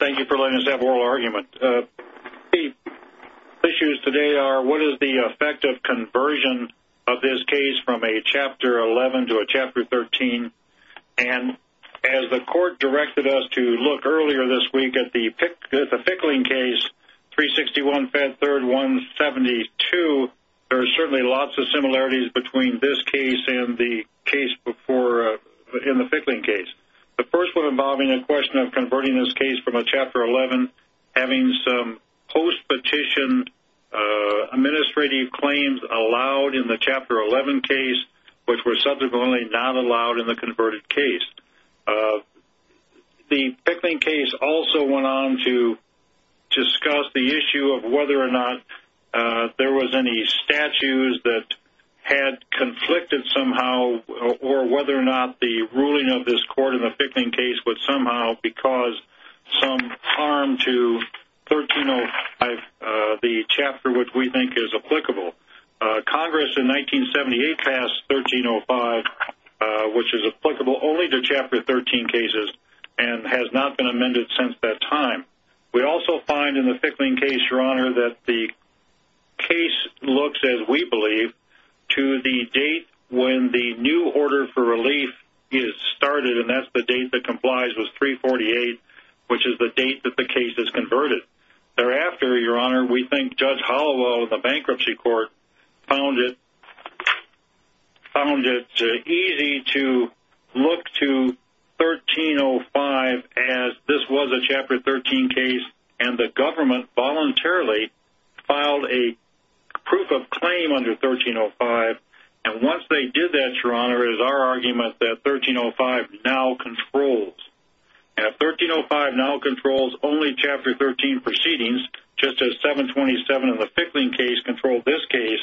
Thank you for letting us have oral argument. The issues today are what is the effect of conversion of this case from a chapter 11 to a chapter 13 and as the court directed us to look earlier this week at the Fickling case, 361 Fed 3rd 172, there are certainly lots of similarities between this case and the case before in the Fickling case. The first one involving a question of converting this case from a chapter 11 having some post petition administrative claims allowed in the chapter 11 case which were subsequently not allowed in the converted case. The Fickling case also went on to discuss the issue of whether or not there was any statutes that had conflicted somehow or whether or not the ruling of this court in the Fickling case would somehow because some harm to 1305, the which is applicable only to chapter 13 cases and has not been amended since that time. We also find in the Fickling case, your honor, that the case looks as we believe to the date when the new order for relief is started and that's the date that complies with 348 which is the date that the case is converted. Thereafter, your honor, we think Judge Holloway of the Fickling case, it would be easy to look to 1305 as this was a chapter 13 case and the government voluntarily filed a proof of claim under 1305 and once they did that, your honor, it is our argument that 1305 now controls. If 1305 now controls only chapter 13 proceedings just as 727 in the Fickling case controlled this case,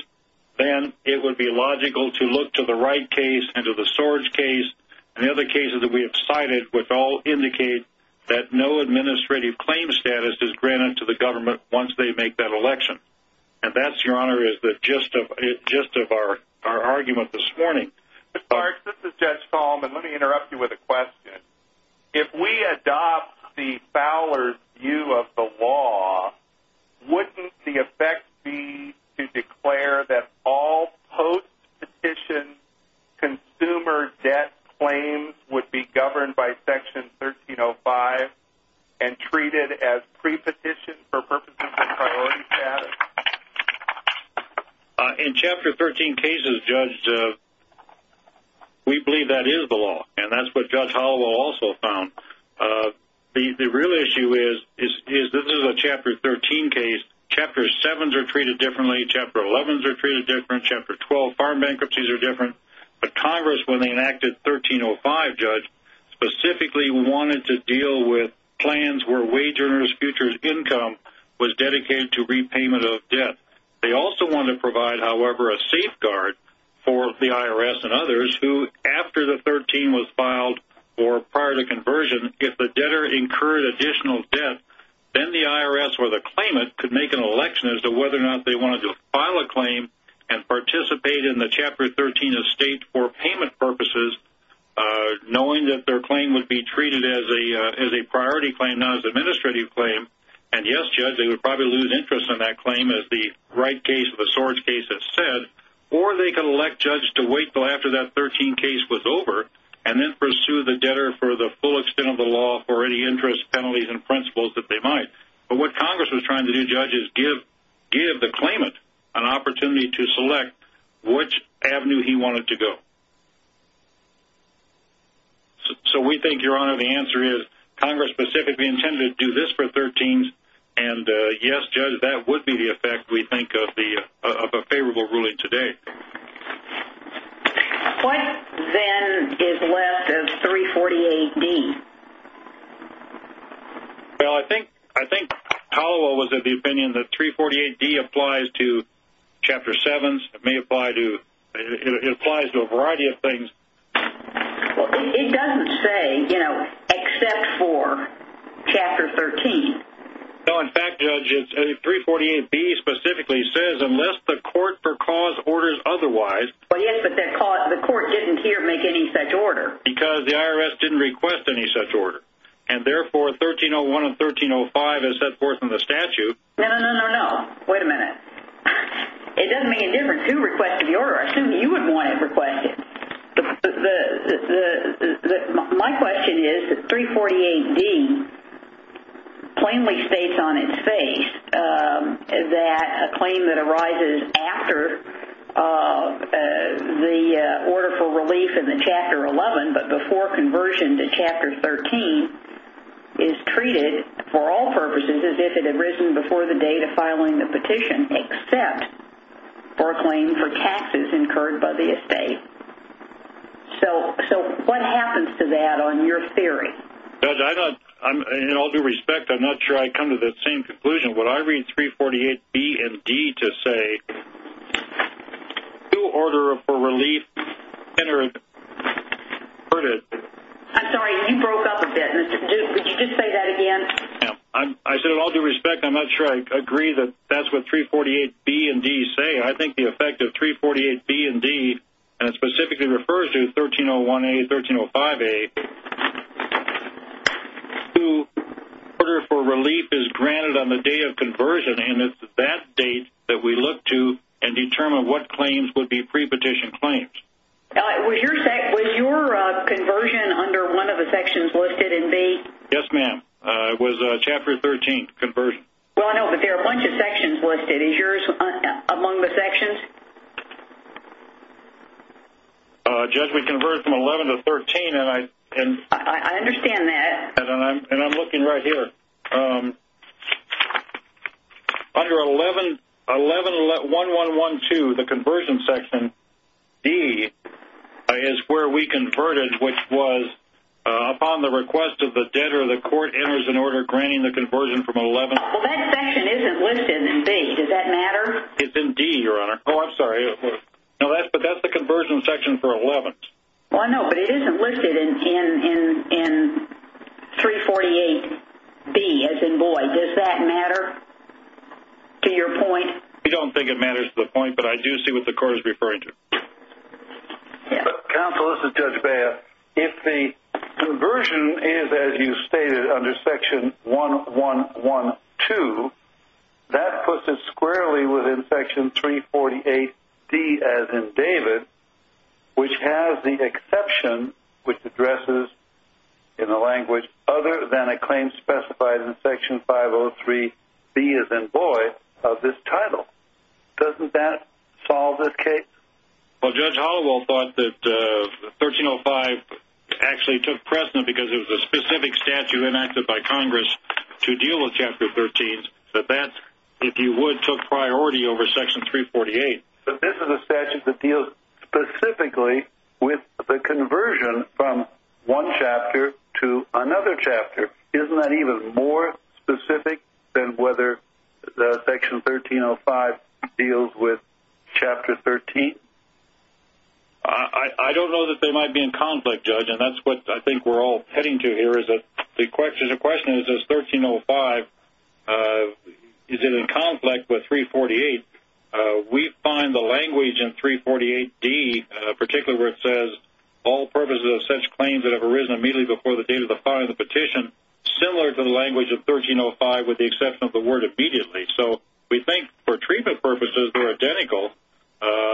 then it would be logical to look to the Wright case and to the Sorge case and the other cases that we have cited which all indicate that no administrative claim status is granted to the government once they make that election. And that, your honor, is the gist of our argument this morning. Judge Folleman, let me interrupt you with a question. If we adopt the Fowler view of the law, wouldn't the effect be to declare that all post-petition consumer debt claims would be governed by section 1305 and treated as pre-petition for purposes of priority status? In chapter 13 cases, Judge, we believe that is the law and that's what Judge Holloway also found. The real issue is this is a chapter 13 case. Chapter 7s are treated differently. Chapter 11s are treated differently. Chapter 12 farm bankruptcies are different. But Congress, when they enacted 1305, Judge, specifically wanted to deal with plans where wage earners' future income was dedicated to repayment of debt. They also wanted to provide, however, a safeguard for the IRS and others who, after the 13 was filed or prior to conversion, if the debtor incurred additional debt, then the IRS or the claimant could make an election as to whether or not they wanted to file a claim and participate in the chapter 13 estate for payment purposes, knowing that their claim would be treated as a priority claim, not as an administrative claim. And yes, Judge, they would probably lose interest in that or they could elect Judge to wait until after that 13 case was over and then pursue the debtor for the full extent of the law for any interest, penalties, and principles that they might. But what Congress was trying to do, Judge, is give the claimant an opportunity to select which avenue he wanted to go. So we think, Your Honor, the answer is Congress specifically intended to do this for 13s. And yes, Judge, that would be the effect, we think, of a favorable ruling today. What, then, is left of 348D? Well, I think Powell was of the opinion that 348D applies to Chapter 7s. It may apply to – it applies to a variety of things. Well, it doesn't say, you know, except for Chapter 13. No, in fact, Judge, 348B specifically says, unless the court per cause orders otherwise – Well, yes, but the court didn't here make any such order. Because the IRS didn't request any such order. And therefore, 1301 and 1305, as set forth in the statute – No, no, no, no, no. Wait a minute. It doesn't make a difference who requested the order. I assume you would want it requested. My question is that 348D plainly states on its face that a claim that arises after the order for relief in the Chapter 11, but before conversion to Chapter 13, is treated, for all purposes, as if it had arisen before the date of filing the petition, except for a claim for taxes incurred by the estate. So, what happens to that on your theory? Judge, I don't – in all due respect, I'm not sure I come to the same conclusion. Would I read 348B and D to say, due order for relief in order to – I'm sorry, you broke up a bit. Would you just say that again? I said, in all due respect, I'm not sure I agree that that's what 348B and D say. I think the effect of 348B and D, and it specifically refers to 1301A, 1305A, due order for relief is granted on the day of conversion. And it's that date that we look to and determine what claims would be pre-petition claims. Was your conversion under one of the sections listed in B? Yes, ma'am. It was Chapter 13, Conversion. Well, I know, but there are a bunch of sections listed. Is yours among the sections? Judge, we converted from 11 to 13, and I – I understand that. And I'm looking right here. Under 111112, the Conversion Section, D, is where we converted, which was, upon the request of the debtor, the court enters an order granting the conversion from 11 – Well, that section isn't listed in B. Does that matter? It's in D, Your Honor. Oh, I'm sorry. No, that's – but that's the Conversion Section for 11th. Well, I know, but it isn't listed in 348B, as in Boyd. Does that matter to your point? We don't think it matters to the point, but I do see what the court is referring to. Counsel, this is Judge Baez. If the conversion is, as you stated, under Section 1112, that puts it squarely within Section 348D, as in David, which has the exception, which addresses in the language, other than a claim specified in Section 503B, as in Boyd, of this title. Doesn't that solve this case? Well, Judge Hollowell thought that 1305 actually took precedent because it was a specific statute enacted by Congress to deal with Chapter 13, but that, if you would, took priority over Section 348. But this is a statute that deals specifically with the conversion from one chapter to another chapter. Isn't that even more specific than whether Section 1305 deals with Chapter 13? I don't know that they might be in conflict, Judge, and that's what I think we're all heading to here, is that the question is, is 1305 – is it in conflict with 348? We find the language in 348D, particularly where it says, all purposes of such claims that have arisen immediately before the date of the filing of the petition, similar to the language of 1305 with the exception of the word immediately. So we think, for treatment purposes, they're identical,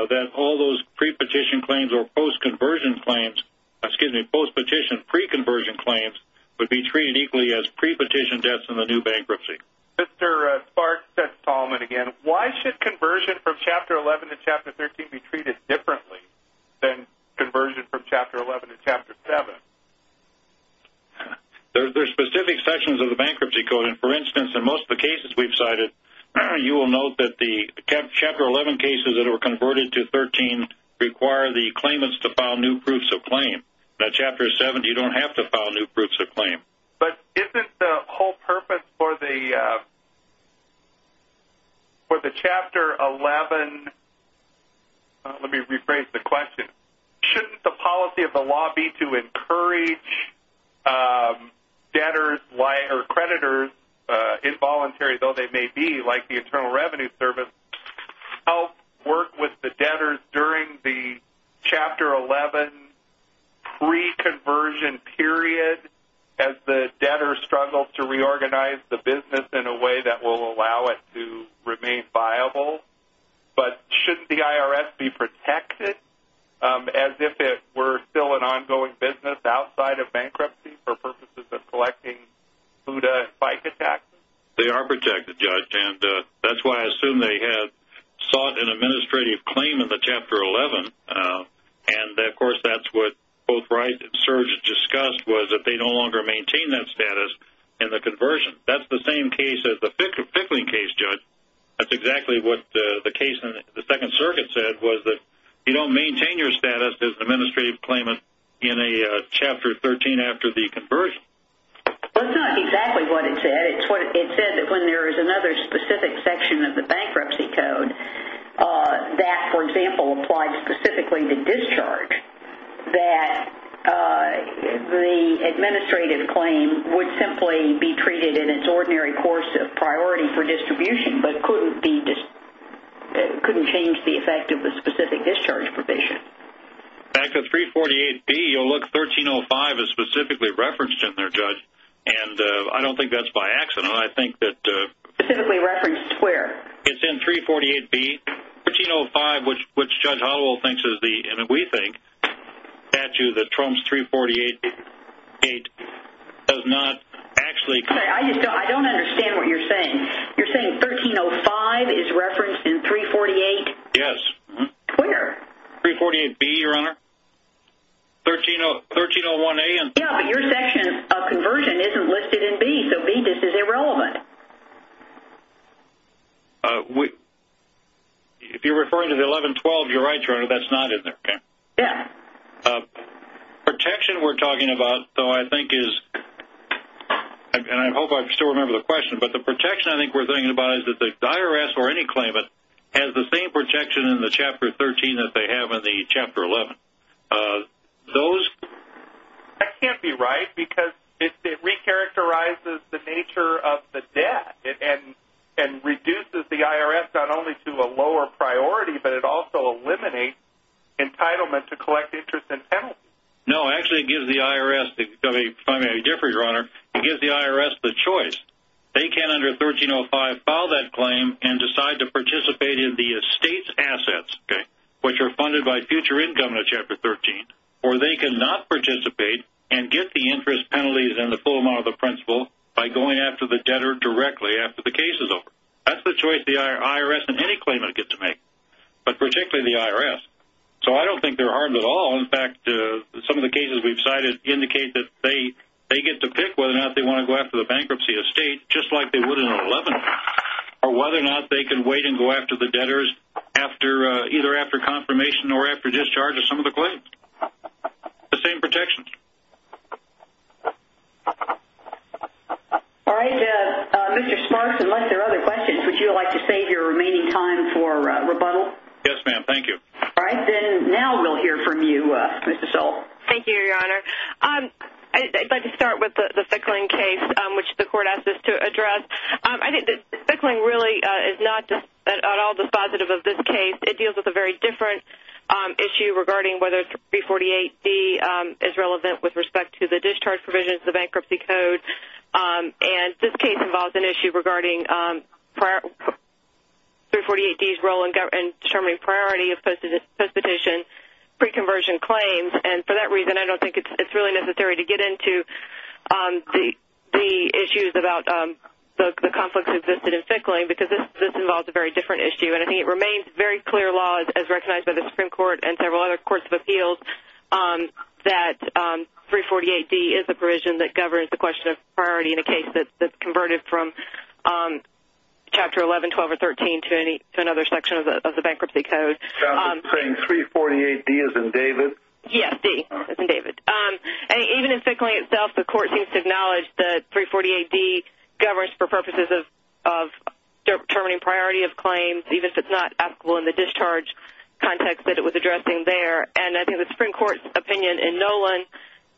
that all those pre-petition claims or post-conversion claims – excuse me, post-petition, pre-conversion claims – would be treated equally as pre-petition debts in the new bankruptcy. Mr. Sparks, that's Tolman again. Why should conversion from Chapter 11 to Chapter 13 be treated differently than conversion from Chapter 11 to Chapter 7? There are specific sections of the bankruptcy code, and, for instance, in most of the cases we've cited, you will note that the Chapter 11 cases that are converted to Chapter 13 require the claimants to file new proofs of claim. In Chapter 7, you don't have to file new proofs of claim. But isn't the whole purpose for the Chapter 11 – let me rephrase the question. Shouldn't the policy of the law be to encourage debtors or creditors, involuntary though they may be, like the Internal Revenue Service, help work with the debtors during the Chapter 11 pre-conversion period as the debtors struggle to reorganize the business in a way that will allow it to remain viable? But shouldn't the IRS be protected as if it were still an ongoing business outside of bankruptcy for purposes of collecting BUDA and FICA taxes? They are protected, Judge, and that's why I assume they have sought an administrative claim in the Chapter 11. And, of course, that's what both Wright and Serge discussed, was that they no longer maintain that status in the conversion. That's the same case as the Fickling case, Judge. That's exactly what the case in the Second Circuit said, was that you don't maintain your status as an administrative claimant in a Chapter 13 after the conversion. That's not exactly what it said. It said that when there is another specific section of the bankruptcy code that, for example, applies specifically to discharge, that the administrative claim would simply be treated in its ordinary course of priority for distribution, but couldn't change the effect of the specific discharge provision. Back to 348B, oh, look, 1305 is specifically referenced in there, Judge. And I don't think that's by accident. I think that... Specifically referenced where? It's in 348B. 1305, which Judge Hollowell thinks is the, and we think, statute that trumps 348A, does not actually... I don't understand what you're saying. You're saying 1305 is referenced in 348... Yes. Where? 348B, Your Honor. 1301A and... Yes, but your section of conversion isn't listed in B, so B just is irrelevant. If you're referring to the 1112, you're right, Your Honor, that's not in there. Yes. Protection we're talking about, though, I think is, and I hope I still remember the question, but the protection I think we're thinking about is that the IRS or any claimant has the same protection in the Chapter 13 that they have in the Chapter 11. Those... That can't be right, because it recharacterizes the nature of the debt and reduces the IRS not only to a lower priority, but it also eliminates entitlement to collect interest and penalty. No, actually it gives the IRS, if I may differ, Your Honor, it gives the IRS the choice. They can, under 1305, file that claim and decide to participate in the estate's assets, which are funded by future income in Chapter 13, or they can not participate and get the interest penalties and the full amount of the principal by going after the debtor directly after the case is over. That's the choice the IRS and any claimant get to make, but particularly the IRS. So I don't think they're harmed at all. In fact, some of the cases we've cited indicate that they get to pick whether or not they want to go after the bankruptcy estate, just like they would in Chapter 11, or whether or not they can wait and go after the debtors either after confirmation or after discharge of some of the claims. The same protections. All right. Mr. Smarks, unless there are other questions, would you like to save your remaining time for rebuttal? Yes, ma'am. Thank you. All right. Then now we'll hear from you, Mr. Stoll. Thank you, Your Honor. I'd like to start with the Fickling case, which the Court asked us to address. I think that Fickling really is not at all dispositive of this case. It deals with a very different issue regarding whether 348D is relevant with respect to the discharge provisions, the bankruptcy code. And this case involves an issue regarding 348D's role in determining priority of post-petition pre-conversion claims, and for that reason, I don't think it's really necessary to get into the issues about the conflicts that existed in Fickling, because this involves a very different issue. And I think it remains very clear law, as recognized by the Supreme Court and several other courts of appeals, that 348D is a provision that governs the question of priority in a case that's converted from Chapter 11, 12, or 13 to another section of the bankruptcy code. So you're saying 348D isn't David? Yes, D isn't David. And even in Fickling itself, the Court seems to acknowledge that 348D governs for purposes of determining priority of claims, even if it's not applicable in the discharge context that it was addressing there. And I think the Supreme Court's opinion in Nolan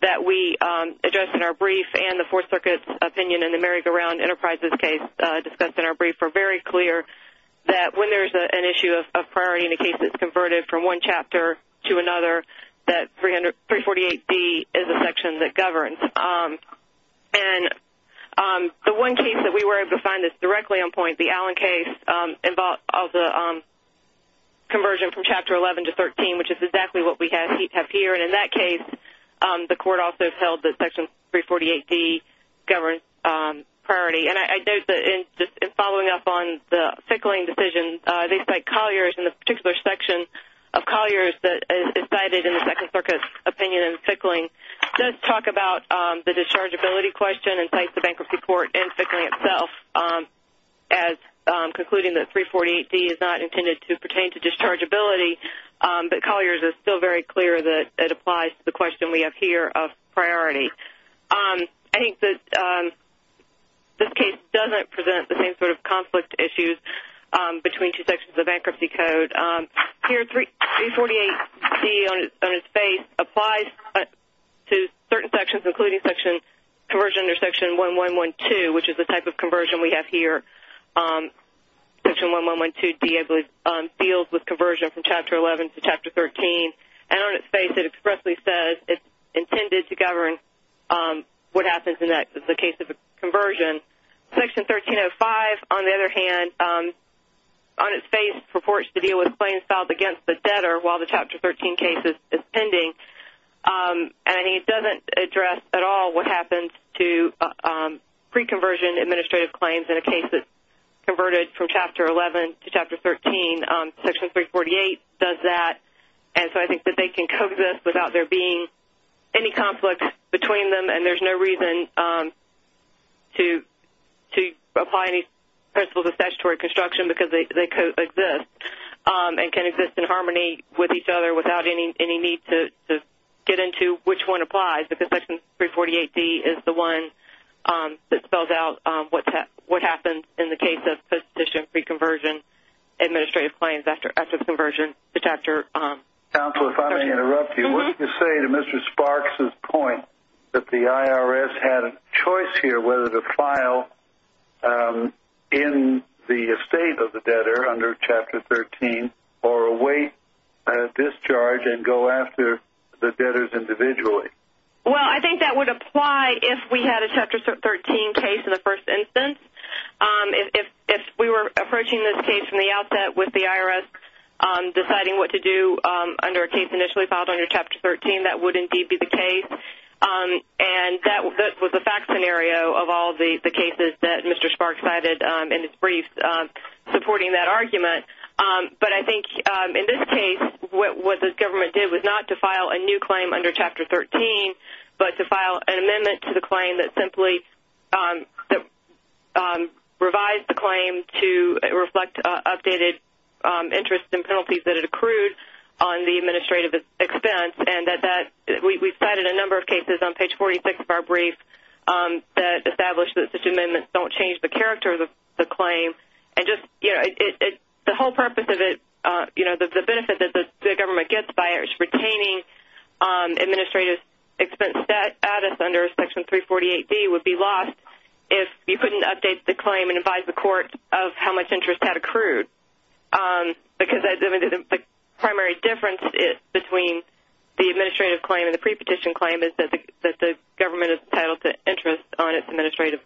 that we addressed in our brief, and the Fourth Circuit's opinion in the Merrick-Around Enterprises case discussed in our brief, were very clear that when there's an issue of priority in a case that's converted from one chapter to another, that 348D is a section that governs. And the one case that we were able to find that's directly on point, the Allen case, involved the conversion from Chapter 11 to 13, which is exactly what we have here. And in that case, the Court also held that Section 348D governed priority. And I note that in following up on the Fickling decision, they cite Collier's in the particular section of Collier's that is cited in the Second Circuit's opinion in Fickling, does talk about the dischargeability question and cites the bankruptcy court in Fickling itself as concluding that 348D is not intended to pertain to dischargeability, but Collier's is still very clear that it applies to the question we have here of priority. I think that this case doesn't present the same sort of conflict issues between two sections of bankruptcy code. Here, 348D on its face applies to certain sections, including conversion under Section 1112, which is the type of conversion we have here. Section 1112 deals with conversion from Chapter 11 to Chapter 13. And on its face, it expressly says it's intended to govern what happens next in the case of a conversion. Section 1305, on the other hand, on its face, purports to deal with claims filed against the debtor while the Chapter 13 case is pending. And it doesn't address at all what happens to pre-conversion administrative claims in a case that's converted from Chapter 11 to Chapter 13. Section 348 does that. And so I think that they can coexist without there being any conflict between them. And there's no reason to apply any principles of statutory construction because they coexist and can exist in harmony with each other without any need to get into which one applies because Section 348D is the one that spells out what happens in the case of pre-conversion administrative claims after the conversion to Chapter 13. Counsel, if I may interrupt you, wouldn't you say to Mr. Sparks' point that the IRS had a choice here whether to file in the estate of the debtor under Chapter 13 or await a discharge and go after the debtors individually? Well, I think that would apply if we had a Chapter 13 case in the first instance. If we were approaching this case from the outset with the IRS deciding what to do under a case initially filed under Chapter 13, that would indeed be the case. And that was a fact scenario of all the cases that Mr. Sparks cited in his brief supporting that argument. But I think in this case what the government did was not to file a new claim under Chapter 13 but to file an amendment to the claim that simply revised the claim to reflect updated interest and penalties that had accrued on the administrative expense. We cited a number of cases on page 46 of our brief that established that such amendments don't change the character of the claim. The whole purpose of it, the benefit that the government gets by it, is retaining administrative expense status under Section 348B would be lost if you couldn't update the claim and advise the court of how much interest had accrued. Because the primary difference between the administrative claim and the pre-petition claim is that the government is entitled to interest on its administrative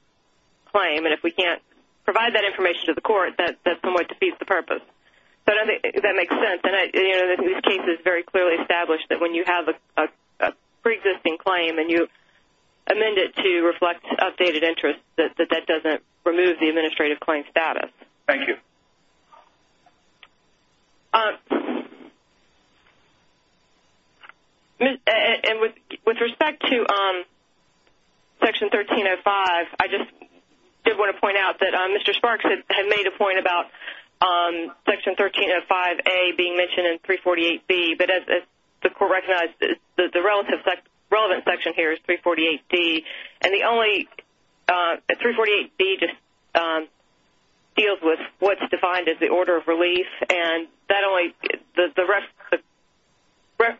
claim. And if we can't provide that information to the court, that somewhat defeats the purpose. But I think that makes sense. And this case is very clearly established that when you have a pre-existing claim and you amend it to reflect updated interest, that that doesn't remove the administrative claim status. Thank you. With respect to Section 1305, I just did want to point out that Mr. Sparks had made a point about Section 1305A being mentioned in 348B. But as the court recognized, the relevant section here is 348D. And 348D just deals with what's defined as the order of relief. And the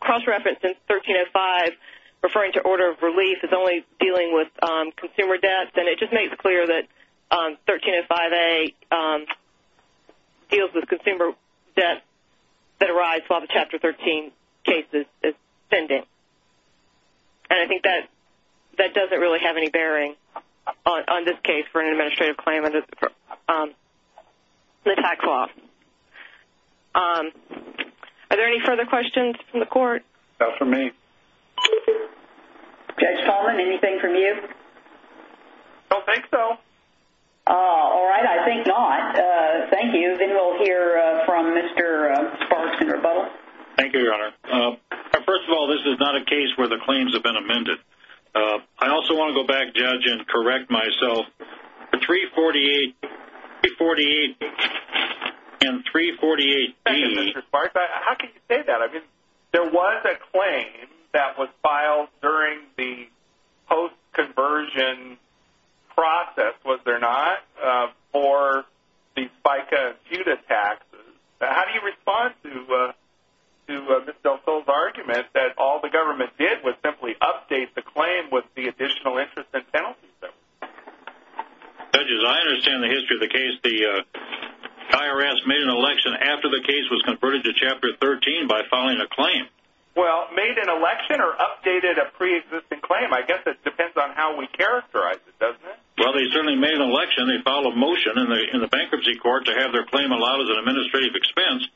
cross-reference in 1305 referring to order of relief is only dealing with consumer debts. And it just makes clear that 1305A deals with consumer debts that arise while the Chapter 13 case is pending. And I think that doesn't really have any bearing on this case for an administrative claim under the tax law. Are there any further questions from the court? No, from me. Judge Tallman, anything from you? Don't think so. All right, I think not. Thank you. Then we'll hear from Mr. Sparks in rebuttal. Thank you, Your Honor. First of all, this is not a case where the claims have been amended. I also want to go back, Judge, and correct myself. The 348B and 348D… Thank you, Mr. Sparks. How can you say that? I mean, there was a claim that was filed during the post-conversion process, was there not, for the FICA-FUTA taxes. How do you respond to Ms. Del Sol's argument that all the government did was simply update the claim with the additional interest and penalty? Judge, as I understand the history of the case, the IRS made an election after the case was converted to Chapter 13 by filing a claim. Well, made an election or updated a pre-existing claim? I guess it depends on how we characterize it, doesn't it? Well, they certainly made an election. They filed a motion in the bankruptcy court to have their claim allowed as an administrative expense.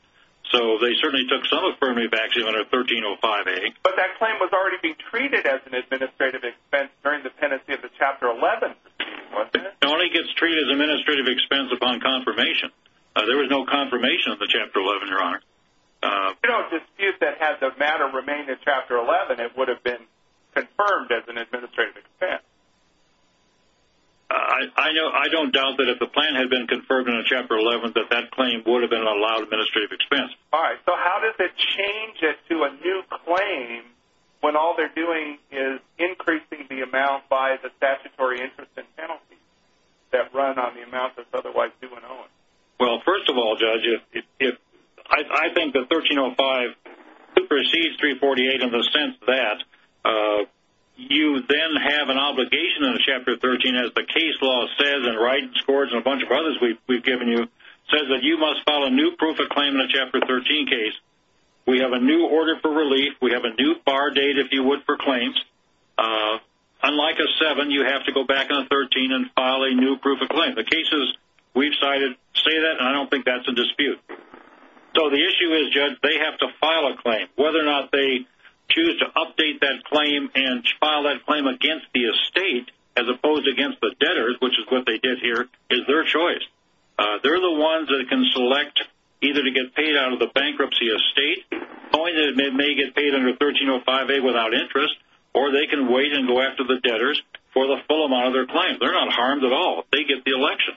So, they certainly took some affirmative action under 1305A. But that claim was already being treated as an administrative expense during the pendency of the Chapter 11 proceeding, wasn't it? It only gets treated as an administrative expense upon confirmation. You don't dispute that had the matter remained in Chapter 11, it would have been confirmed as an administrative expense. I don't doubt that if the plan had been confirmed in Chapter 11, that that claim would have been allowed administrative expense. All right. So, how does it change it to a new claim when all they're doing is increasing the amount by the statutory interest and penalty that run on the amount that's otherwise due and owing? Well, first of all, Judge, I think that 1305 precedes 348 in the sense that you then have an obligation in Chapter 13, as the case law says, and Wright and Scores and a bunch of others we've given you, says that you must file a new proof of claim in a Chapter 13 case. We have a new order for relief. We have a new far date, if you would, for claims. Unlike a 7, you have to go back on a 13 and file a new proof of claim. The cases we've cited say that, and I don't think that's a dispute. So, the issue is, Judge, they have to file a claim. Whether or not they choose to update that claim and file that claim against the estate, as opposed against the debtors, which is what they did here, is their choice. They're the ones that can select either to get paid out of the bankruptcy estate, knowing that it may get paid under 1305A without interest, or they can wait and go after the debtors for the full amount of their claim. They're not harmed at all. They get the election.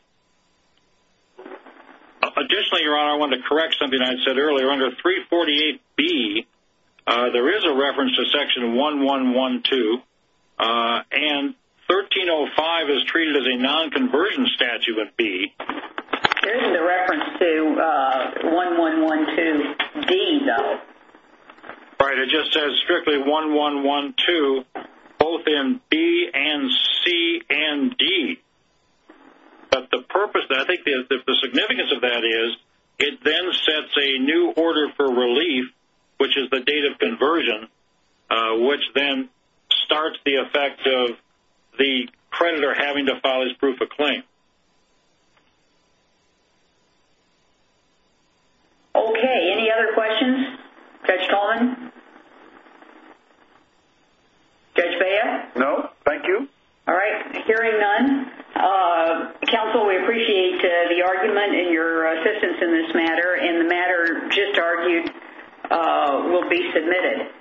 Additionally, Your Honor, I wanted to correct something I said earlier. Under 348B, there is a reference to Section 1112, and 1305 is treated as a non-conversion statute with B. There isn't a reference to 1112D, though. Right, it just says strictly 1112, both in B and C and D. But the purpose, I think the significance of that is, it then sets a new order for relief, which is the date of conversion, which then starts the effect of the creditor having to file his proof of claim. Okay, any other questions? Judge Coleman? Judge Bea? No, thank you. All right, hearing none, counsel, we appreciate the argument and your assistance in this matter, and the matter just argued will be submitted.